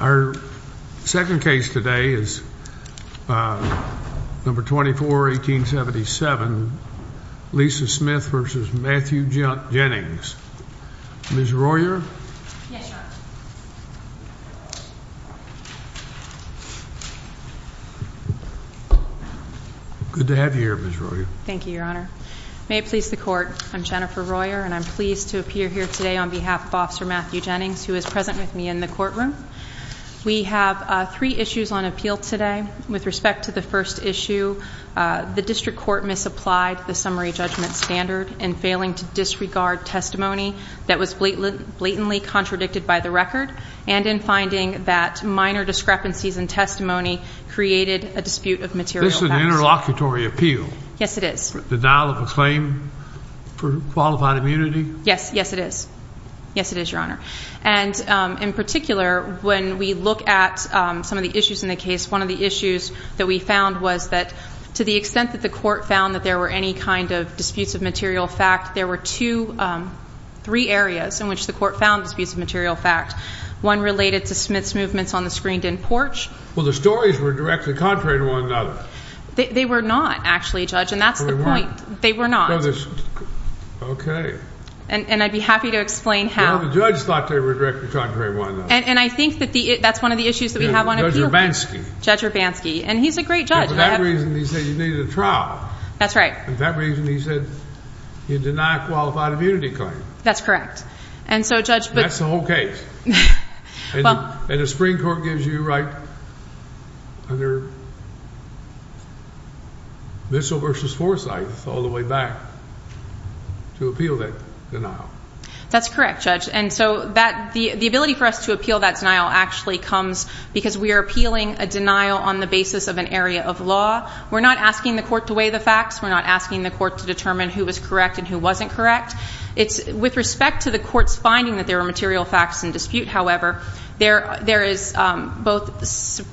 Our second case today is number 24, 1877, Lisa Smith v. Matthew Jennings. Ms. Royer? Yes, Your Honor. Good to have you here, Ms. Royer. Thank you, Your Honor. May it please the Court, I'm Jennifer Royer, and I'm pleased to appear here today on behalf of Officer Matthew Jennings, who is present with me in the courtroom. We have three issues on appeal today. With respect to the first issue, the district court misapplied the summary judgment standard in failing to disregard testimony that was blatantly contradicted by the record, and in finding that minor discrepancies in testimony created a dispute of material facts. This is an interlocutory appeal. Yes, it is. Denial of a claim for qualified immunity? Yes, yes it is. Yes, it is, Your Honor. And in particular, when we look at some of the issues in the case, one of the issues that we found was that to the extent that the court found that there were any kind of disputes of material fact, there were two, three areas in which the court found disputes of material fact. One related to Smith's movements on the screened-in porch. Well, the stories were directly contrary to one another. They were not, actually, Judge, and that's the point. They weren't? They were not. Okay. And I'd be happy to explain how. Well, the judge thought they were directly contrary to one another. And I think that's one of the issues that we have on appeal. Judge Urbanski. Judge Urbanski, and he's a great judge. And for that reason, he said you needed a trial. That's right. And for that reason, he said you deny a qualified immunity claim. That's correct. And so, Judge, but... That's the whole case. Well... And the Supreme Court gives you right under missile versus foresight all the way back to appeal that denial. That's correct, Judge. And so, the ability for us to appeal that denial actually comes because we are appealing a denial on the basis of an area of law. We're not asking the court to weigh the facts. We're not asking the court to determine who was correct and who wasn't correct. With respect to the court's finding that there are material facts in dispute, however, there is both the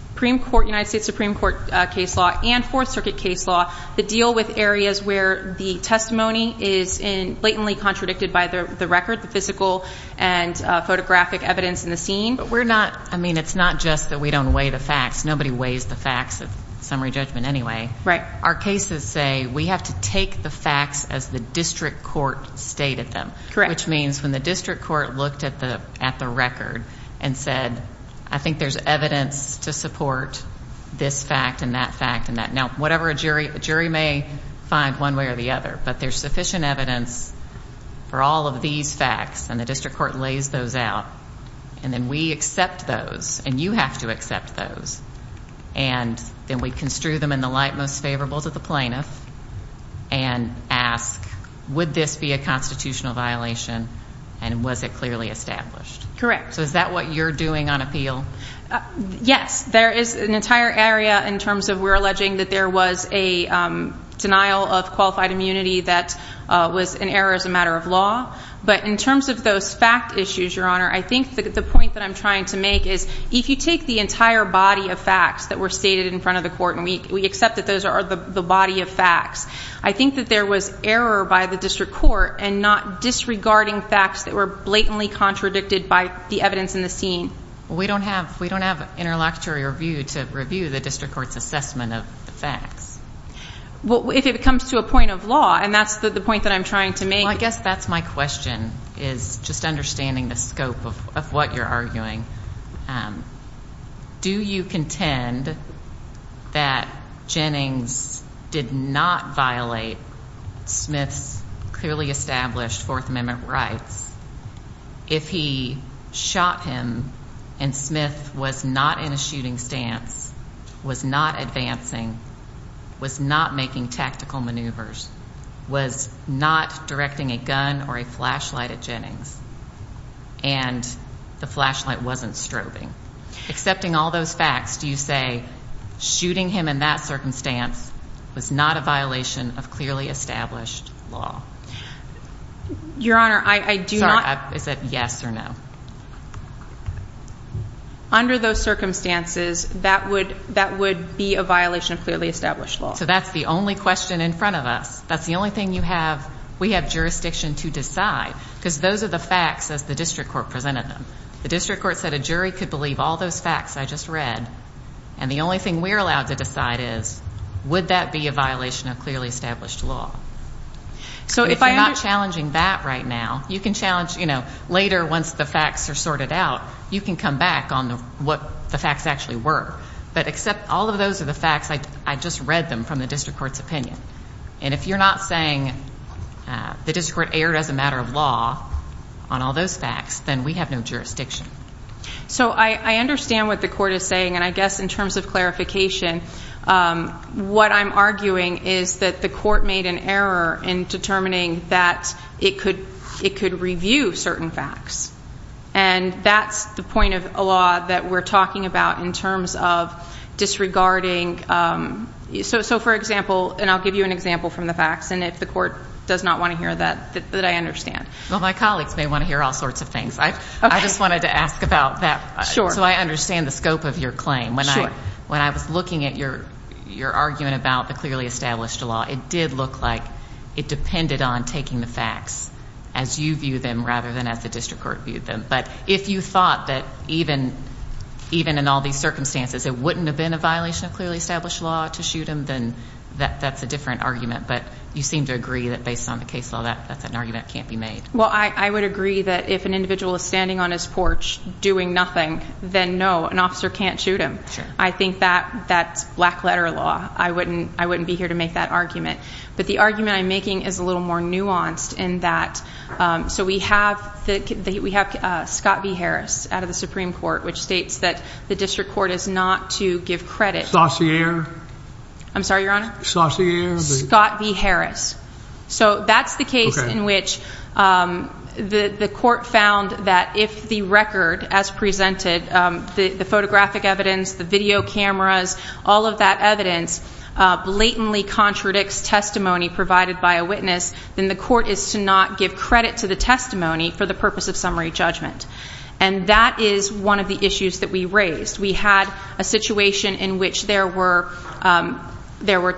United States Supreme Court case law and Fourth Circuit case law that deal with areas where the testimony is blatantly contradicted by the record, the physical and photographic evidence in the scene. But we're not... I mean, it's not just that we don't weigh the facts. Nobody weighs the facts of summary judgment anyway. Right. Our cases say we have to take the facts as the district court stated them. Correct. Which means when the district court looked at the record and said, I think there's evidence to support this fact and that fact and that... Whatever a jury may find one way or the other. But there's sufficient evidence for all of these facts, and the district court lays those out. And then we accept those, and you have to accept those. And then we construe them in the light most favorable to the plaintiff and ask, would this be a constitutional violation and was it clearly established? Correct. So is that what you're doing on appeal? Yes. There is an entire area in terms of we're alleging that there was a denial of qualified immunity that was an error as a matter of law. But in terms of those fact issues, Your Honor, I think the point that I'm trying to make is if you take the entire body of facts that were stated in front of the court, and we accept that those are the body of facts, I think that there was error by the district court in not disregarding facts that were blatantly contradicted by the evidence in the scene. We don't have an interlocutory review to review the district court's assessment of the facts. Well, if it comes to a point of law, and that's the point that I'm trying to make. Well, I guess that's my question is just understanding the scope of what you're arguing. Do you contend that Jennings did not violate Smith's clearly established Fourth Amendment rights if he shot him and Smith was not in a shooting stance, was not advancing, was not making tactical maneuvers, was not directing a gun or a flashlight at Jennings, and the flashlight wasn't strobing? Accepting all those facts, do you say shooting him in that circumstance was not a violation of clearly established law? Your Honor, I do not... Sorry, is it yes or no? Under those circumstances, that would be a violation of clearly established law. So that's the only question in front of us. That's the only thing you have, we have jurisdiction to decide because those are the facts as the district court presented them. The district court said a jury could believe all those facts I just read, and the only thing we're allowed to decide is would that be a violation of clearly established law? If you're not challenging that right now, you can challenge later once the facts are sorted out, you can come back on what the facts actually were. But except all of those are the facts, I just read them from the district court's opinion. And if you're not saying the district court erred as a matter of law on all those facts, then we have no jurisdiction. So I understand what the court is saying, and I guess in terms of clarification, what I'm arguing is that the court made an error in determining that it could review certain facts. And that's the point of a law that we're talking about in terms of disregarding... So for example, and I'll give you an example from the facts, and if the court does not want to hear that, that I understand. Well, my colleagues may want to hear all sorts of things. I just wanted to ask about that so I understand the scope of your claim. When I was looking at your argument about the clearly established law, it did look like it depended on taking the facts as you viewed them rather than as the district court viewed them. But if you thought that even in all these circumstances, it wouldn't have been a violation of clearly established law to shoot him, then that's a different argument. But you seem to agree that based on the case law, that's an argument that can't be made. Well, I would agree that if an individual is standing on his porch doing nothing, then no, an officer can't shoot him. I think that's black letter law. I wouldn't be here to make that argument. But the argument I'm making is a little more nuanced in that... So we have Scott v. Harris out of the Supreme Court, which states that the district court is not to give credit... I'm sorry, Your Honor? Saussure? Scott v. Harris. So that's the case in which the court found that if the record as presented, the photographic evidence, the video cameras, all of that evidence blatantly contradicts testimony provided by a witness, then the court is to not give credit to the testimony for the purpose of summary judgment. And that is one of the issues that we raised. We had a situation in which there was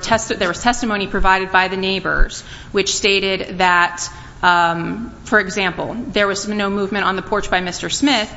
testimony provided by the neighbors, which stated that, for example, there was no movement on the porch by Mr. Smith.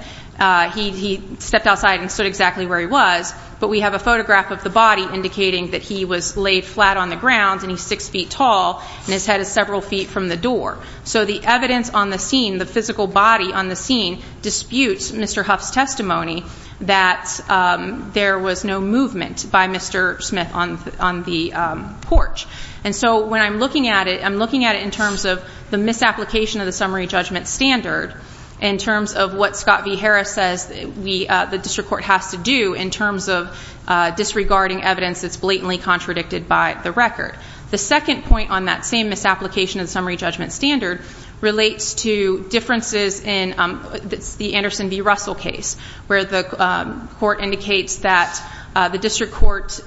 He stepped outside and stood exactly where he was. But we have a photograph of the body indicating that he was laid flat on the ground and he's six feet tall and his head is several feet from the door. So the evidence on the scene, the physical body on the scene, disputes Mr. Huff's testimony that there was no movement by Mr. Smith on the porch. And so when I'm looking at it, I'm looking at it in terms of the misapplication of the summary judgment standard in terms of what Scott v. Harris says the district court has to do in terms of disregarding evidence that's blatantly contradicted by the record. The second point on that same misapplication of the summary judgment standard relates to differences in the Anderson v. Russell case, where the court indicates that the district court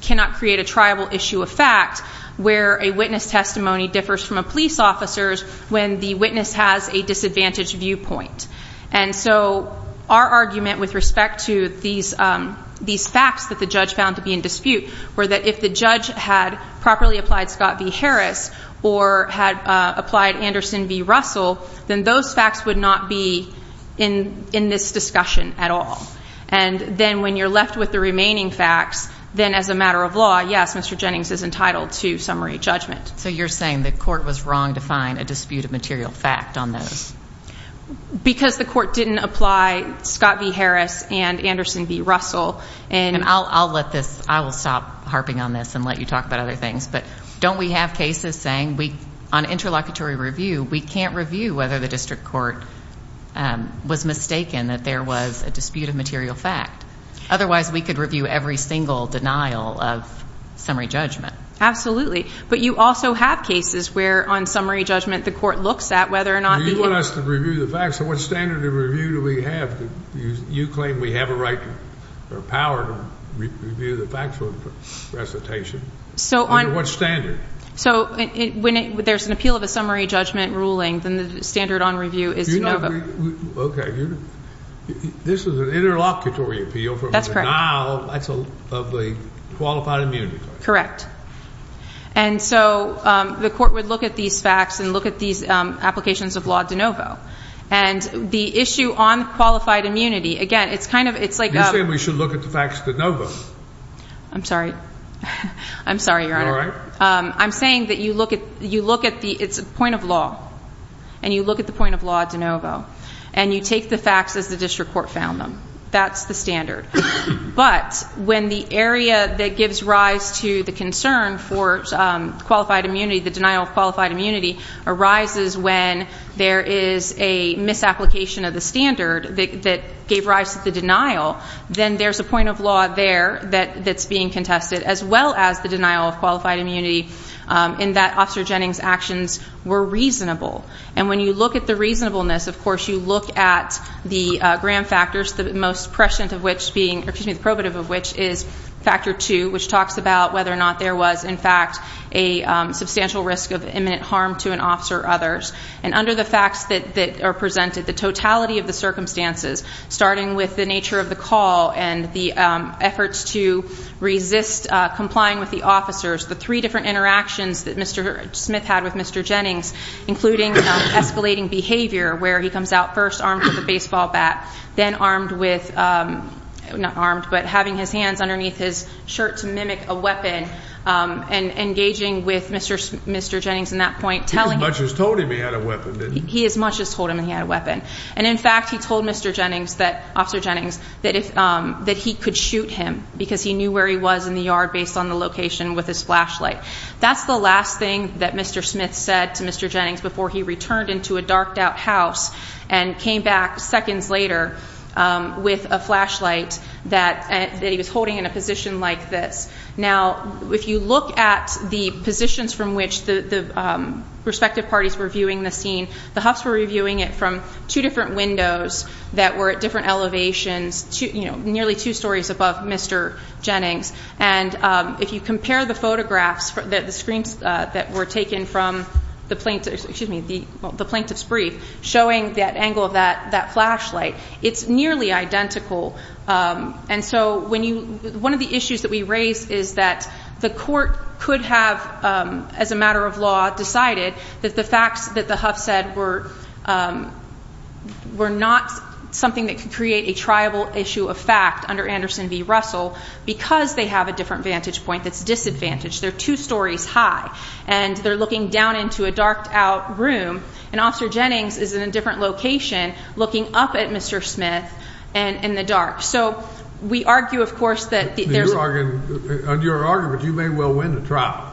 cannot create a triable issue of fact where a witness testimony differs from a police officer's when the witness has a disadvantaged viewpoint. And so our argument with respect to these facts that the judge found to be in dispute were that if the judge had properly applied Scott v. Harris or had applied Anderson v. Russell, then those facts would not be in this discussion at all. And then when you're left with the remaining facts, then as a matter of law, yes, Mr. Jennings is entitled to summary judgment. So you're saying the court was wrong to find a dispute of material fact on those? Because the court didn't apply Scott v. Harris and Anderson v. Russell. And I'll let thisóI will stop harping on this and let you talk about other things. But don't we have cases saying on interlocutory review, we can't review whether the district court was mistaken that there was a dispute of material fact? Otherwise, we could review every single denial of summary judgment. Absolutely. But you also have cases where on summary judgment the court looks at whether or notó You want us to review the facts, so what standard of review do we have? You claim we have a right or power to review the facts for recitation. So onó Under what standard? So when there's an appeal of a summary judgment ruling, then the standard on review is de novo. Okay. This is an interlocutory appeal foró That's correct. That's a denial of a qualified immunity claim. Correct. And so the court would look at these facts and look at these applications of law de novo. And the issue on qualified immunity, again, it's kind ofó You're saying we should look at the facts de novo. I'm sorry. I'm sorry, Your Honor. You all right? I'm saying that you look at theóit's a point of law. And you look at the point of law de novo. And you take the facts as the district court found them. That's the standard. But when the area that gives rise to the concern for qualified immunity, the denial of qualified immunity, arises when there is a misapplication of the standard that gave rise to the denial, then there's a point of law there that's being contested as well as the denial of qualified immunity in that Officer Jennings' actions were reasonable. And when you look at the reasonableness, of course, you look at the Graham factors, the most prescient of which beingóor excuse me, the probative of which is factor 2, which talks about whether or not there was, in fact, a substantial risk of imminent harm to an officer or others. And under the facts that are presented, the totality of the circumstances, starting with the nature of the call and the efforts to resist complying with the officers, the three different interactions that Mr. Smith had with Mr. Jennings, including escalating behavior where he comes out first armed with a baseball bat, then armed withónot armed, but having his hands underneath his shirt to mimic a weapon and engaging with Mr. Jennings in that point, telling himó He as much as told him he had a weapon, didn't he? He as much as told him he had a weapon. And, in fact, he told Mr. Jennings thatóOfficer Jenningsóthat he could shoot him because he knew where he was in the yard based on the location with his flashlight. That's the last thing that Mr. Smith said to Mr. Jennings before he returned into a darked-out house and came back seconds later with a flashlight that he was holding in a position like this. Now, if you look at the positions from which the respective parties were viewing the scene, the Huffs were reviewing it from two different windows that were at different elevations, nearly two stories above Mr. Jennings. And if you compare the photographs, the screens that were taken from the plaintiff's brief showing that angle of that flashlight, it's nearly identical. And so one of the issues that we raise is that the court could have, as a matter of law, decided that the facts that the Huffs said were not something that could create a triable issue of fact under Anderson v. Russell because they have a different vantage point that's disadvantaged. They're two stories high, and they're looking down into a darked-out room, and Officer Jennings is in a different location looking up at Mr. Smith in the dark. So we argue, of course, that there's a – On your argument, you may well win the trial.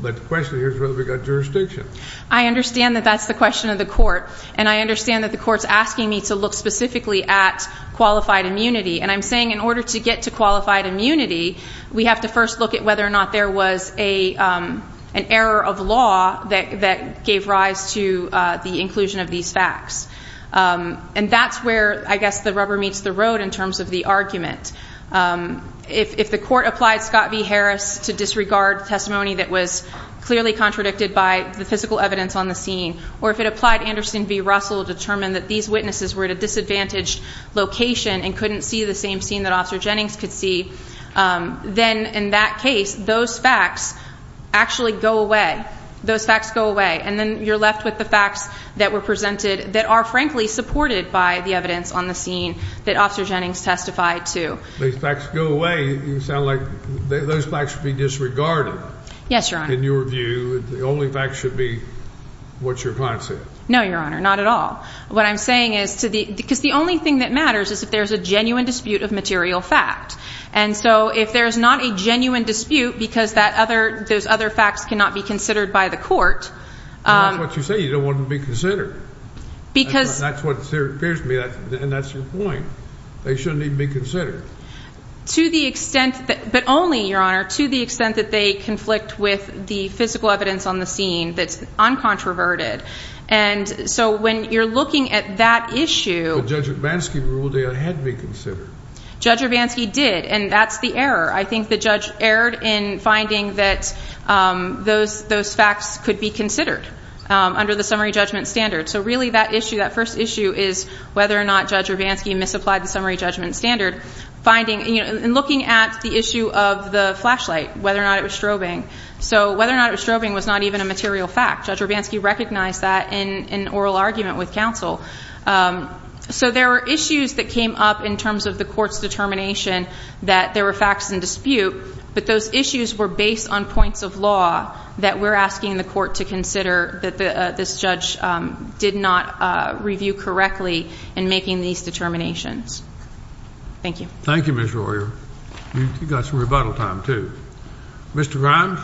But the question here is whether we've got jurisdiction. I understand that that's the question of the court, and I understand that the court's asking me to look specifically at qualified immunity. And I'm saying in order to get to qualified immunity, we have to first look at whether or not there was an error of law that gave rise to the inclusion of these facts. And that's where, I guess, the rubber meets the road in terms of the argument. If the court applied Scott v. Harris to disregard testimony that was clearly contradicted by the physical evidence on the scene, or if it applied Anderson v. Russell to determine that these witnesses were at a disadvantaged location and couldn't see the same scene that Officer Jennings could see, then in that case, those facts actually go away. Those facts go away. And then you're left with the facts that were presented that are, frankly, supported by the evidence on the scene that Officer Jennings testified to. These facts go away. You sound like those facts should be disregarded. Yes, Your Honor. In your view, the only facts should be what's your concept. No, Your Honor, not at all. What I'm saying is because the only thing that matters is if there's a genuine dispute of material fact. And so if there's not a genuine dispute because those other facts cannot be considered by the court. That's not what you say. You don't want them to be considered. That's what appears to me, and that's your point. They shouldn't even be considered. But only, Your Honor, to the extent that they conflict with the physical evidence on the scene that's uncontroverted. And so when you're looking at that issue. But Judge Urbanski ruled they had to be considered. Judge Urbanski did, and that's the error. I think the judge erred in finding that those facts could be considered under the summary judgment standard. So really that issue, that first issue, is whether or not Judge Urbanski misapplied the summary judgment standard. And looking at the issue of the flashlight, whether or not it was strobing. So whether or not it was strobing was not even a material fact. Judge Urbanski recognized that in an oral argument with counsel. So there were issues that came up in terms of the court's determination that there were facts in dispute. But those issues were based on points of law that we're asking the court to consider that this judge did not review correctly in making these determinations. Thank you. Thank you, Ms. Royer. You've got some rebuttal time, too. Mr. Ryan.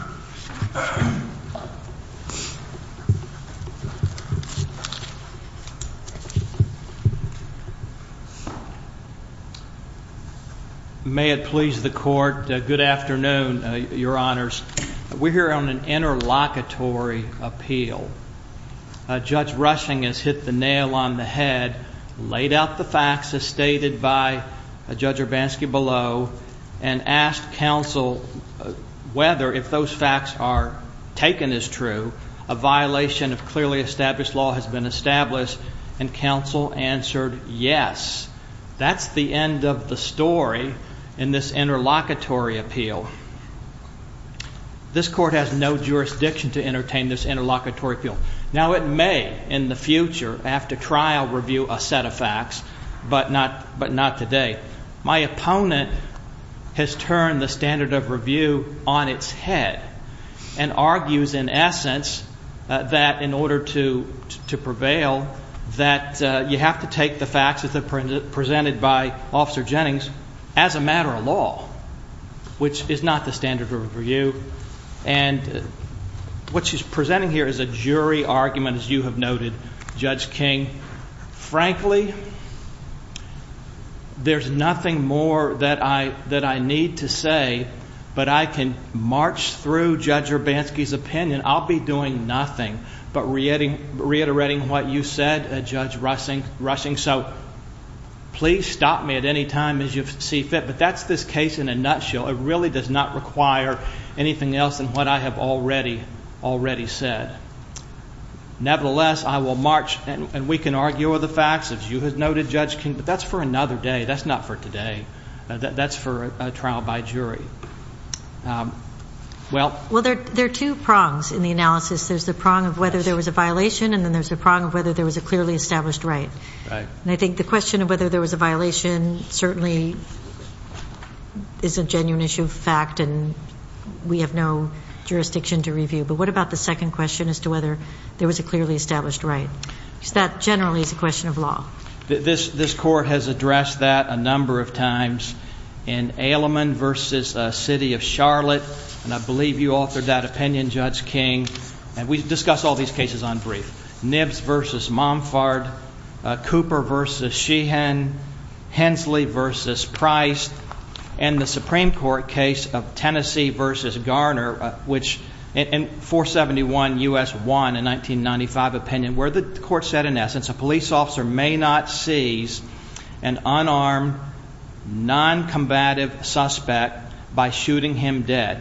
May it please the court, good afternoon, Your Honors. We're here on an interlocutory appeal. Judge Rushing has hit the nail on the head, laid out the facts as stated by Judge Urbanski below, and asked counsel whether, if those facts are taken as true, a violation of clearly established law has been established. And counsel answered yes. That's the end of the story in this interlocutory appeal. This court has no jurisdiction to entertain this interlocutory appeal. Now, it may in the future, after trial, review a set of facts, but not today. My opponent has turned the standard of review on its head and argues, in essence, that in order to prevail, that you have to take the facts as presented by Officer Jennings as a matter of law, which is not the standard of review. And what she's presenting here is a jury argument, as you have noted, Judge King. Frankly, there's nothing more that I need to say, but I can march through Judge Urbanski's opinion. I'll be doing nothing but reiterating what you said, Judge Rushing, so please stop me at any time as you see fit. But that's this case in a nutshell. It really does not require anything else than what I have already said. Nevertheless, I will march, and we can argue over the facts, as you have noted, Judge King, but that's for another day. That's not for today. That's for a trial by jury. Well, there are two prongs in the analysis. There's the prong of whether there was a violation, and then there's the prong of whether there was a clearly established right. And I think the question of whether there was a violation certainly is a genuine issue of fact, and we have no jurisdiction to review. But what about the second question as to whether there was a clearly established right? Because that generally is a question of law. This court has addressed that a number of times in Aleman v. City of Charlotte, and I believe you authored that opinion, Judge King. And we've discussed all these cases on brief. Nibs v. Momfard, Cooper v. Sheehan, Hensley v. Price, and the Supreme Court case of Tennessee v. Garner, and 471 U.S. 1 in 1995 opinion, where the court said, in essence, a police officer may not seize an unarmed, non-combative suspect by shooting him dead.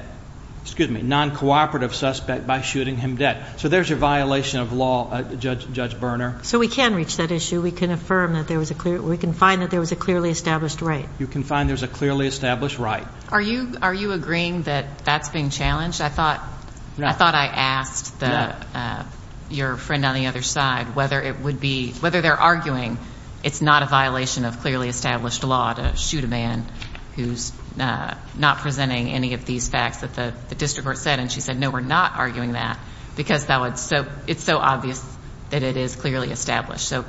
Excuse me, non-cooperative suspect by shooting him dead. So there's your violation of law, Judge Berner. So we can reach that issue. We can affirm that there was a clear – we can find that there was a clearly established right. You can find there's a clearly established right. Are you agreeing that that's being challenged? I thought I asked your friend on the other side whether it would be – whether they're arguing it's not a violation of clearly established law to shoot a man who's not presenting any of these facts that the district court said. And she said, no, we're not arguing that because it's so obvious that it is clearly established. So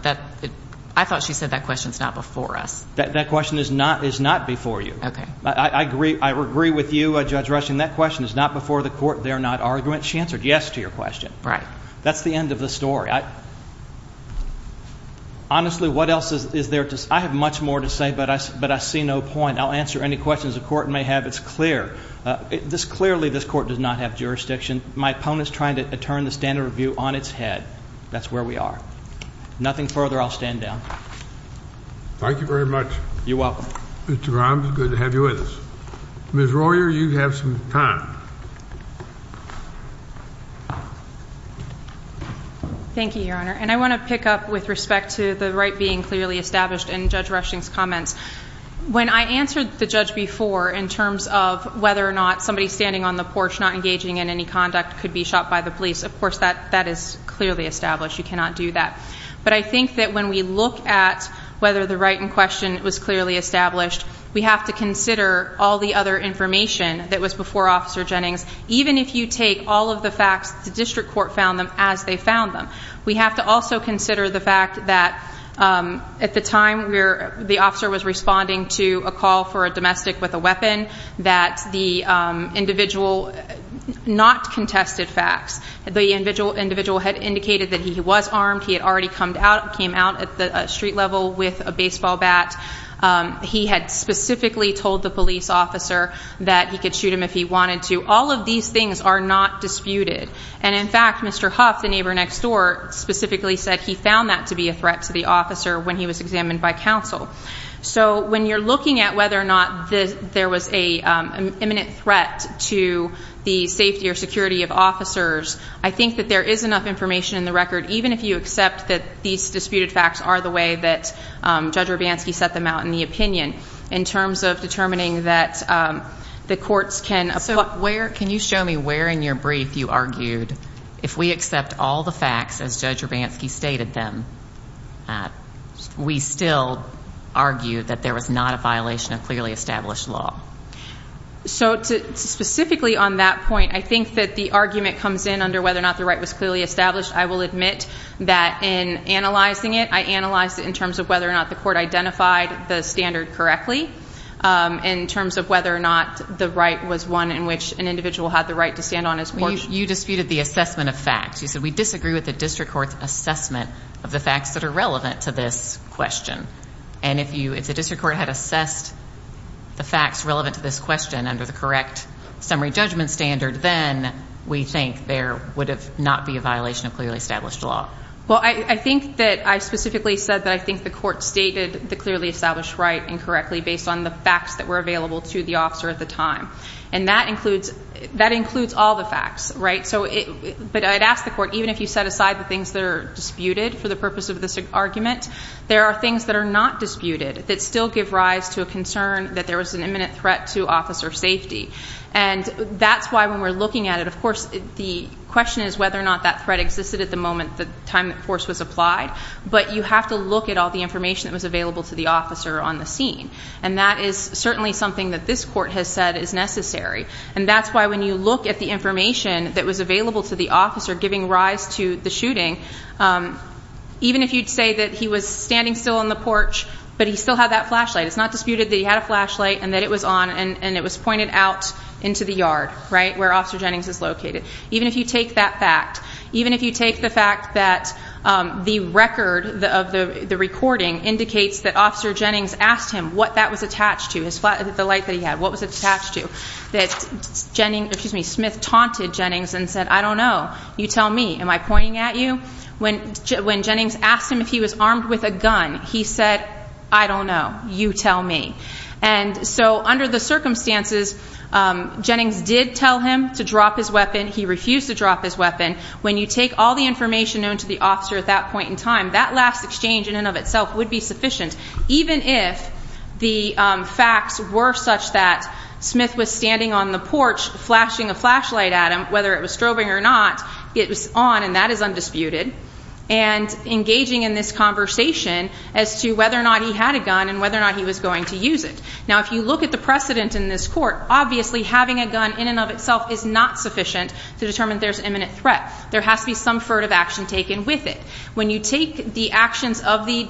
I thought she said that question's not before us. That question is not before you. Okay. I agree with you, Judge Rushing. That question is not before the court. They're not arguing it. She answered yes to your question. Right. That's the end of the story. Honestly, what else is there to – I have much more to say, but I see no point. I'll answer any questions the court may have. It's clear. Clearly, this court does not have jurisdiction. My opponent's trying to turn the standard of view on its head. That's where we are. Nothing further. I'll stand down. Thank you very much. You're welcome. Mr. Grimes, good to have you with us. Ms. Royer, you have some time. Thank you, Your Honor. And I want to pick up with respect to the right being clearly established in Judge Rushing's comments. When I answered the judge before in terms of whether or not somebody standing on the porch not engaging in any conduct could be shot by the police, of course, that is clearly established. You cannot do that. But I think that when we look at whether the right in question was clearly established, we have to consider all the other information that was before Officer Jennings, even if you take all of the facts the district court found them as they found them. We have to also consider the fact that at the time the officer was responding to a call for a domestic with a weapon, that the individual not contested facts. The individual had indicated that he was armed. He had already came out at the street level with a baseball bat. He had specifically told the police officer that he could shoot him if he wanted to. All of these things are not disputed. And, in fact, Mr. Huff, the neighbor next door, specifically said he found that to be a threat to the officer when he was examined by counsel. So when you're looking at whether or not there was an imminent threat to the safety or security of officers, I think that there is enough information in the record, even if you accept that these disputed facts are the way that Judge Urbanski set them out in the opinion, in terms of determining that the courts can apply. So where, can you show me where in your brief you argued if we accept all the facts as Judge Urbanski stated them, we still argue that there was not a violation of clearly established law? So, specifically on that point, I think that the argument comes in under whether or not the right was clearly established. I will admit that in analyzing it, I analyzed it in terms of whether or not the court identified the standard correctly, in terms of whether or not the right was one in which an individual had the right to stand on his porch. You disputed the assessment of facts. You said, we disagree with the district court's assessment of the facts that are relevant to this question. And if the district court had assessed the facts relevant to this question under the correct summary judgment standard, then we think there would not be a violation of clearly established law. Well, I think that I specifically said that I think the court stated the clearly established right incorrectly, based on the facts that were available to the officer at the time. And that includes all the facts, right? But I'd ask the court, even if you set aside the things that are disputed for the purpose of this argument, there are things that are not disputed that still give rise to a concern that there was an imminent threat to officer safety. And that's why when we're looking at it, of course, the question is whether or not that threat existed at the moment, the time that force was applied. But you have to look at all the information that was available to the officer on the scene. And that is certainly something that this court has said is necessary. And that's why when you look at the information that was available to the officer giving rise to the shooting, even if you'd say that he was standing still on the porch, but he still had that flashlight, it's not disputed that he had a flashlight and that it was on and it was pointed out into the yard, right, where Officer Jennings is located. Even if you take that fact, even if you take the fact that the record of the recording indicates that Officer Jennings asked him what that was attached to, the light that he had, what was it attached to, that Jennings, excuse me, Smith taunted Jennings and said, I don't know. You tell me. Am I pointing at you? When Jennings asked him if he was armed with a gun, he said, I don't know. You tell me. And so under the circumstances, Jennings did tell him to drop his weapon. He refused to drop his weapon. When you take all the information known to the officer at that point in time, that last exchange in and of itself would be sufficient. Even if the facts were such that Smith was standing on the porch flashing a flashlight at him, whether it was strobing or not, it was on and that is undisputed, and engaging in this conversation as to whether or not he had a gun and whether or not he was going to use it. Now, if you look at the precedent in this court, obviously having a gun in and of itself is not sufficient to determine there's imminent threat. There has to be some furtive action taken with it. When you take the actions of the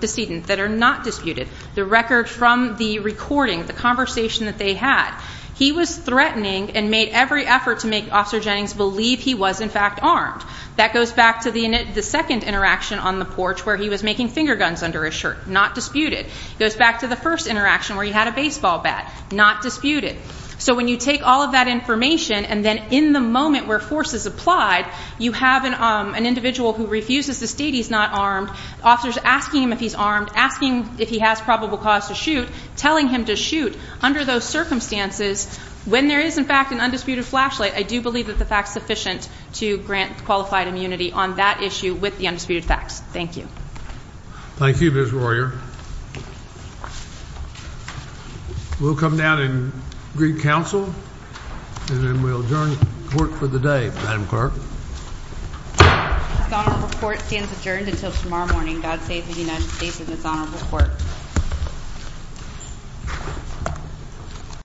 decedent that are not disputed, the record from the recording, the conversation that they had, he was threatening and made every effort to make Officer Jennings believe he was, in fact, armed. That goes back to the second interaction on the porch where he was making finger guns under his shirt, not disputed. It goes back to the first interaction where he had a baseball bat, not disputed. So when you take all of that information and then in the moment where force is applied, you have an individual who refuses to state he's not armed, officers asking him if he's armed, asking if he has probable cause to shoot, telling him to shoot. Under those circumstances, when there is, in fact, an undisputed flashlight, I do believe that the fact is sufficient to grant qualified immunity on that issue with the undisputed facts. Thank you. Thank you, Ms. Royer. We'll come down and greet counsel, and then we'll adjourn the court for the day. Madam Clerk. This honorable court stands adjourned until tomorrow morning. God save the United States and this honorable court.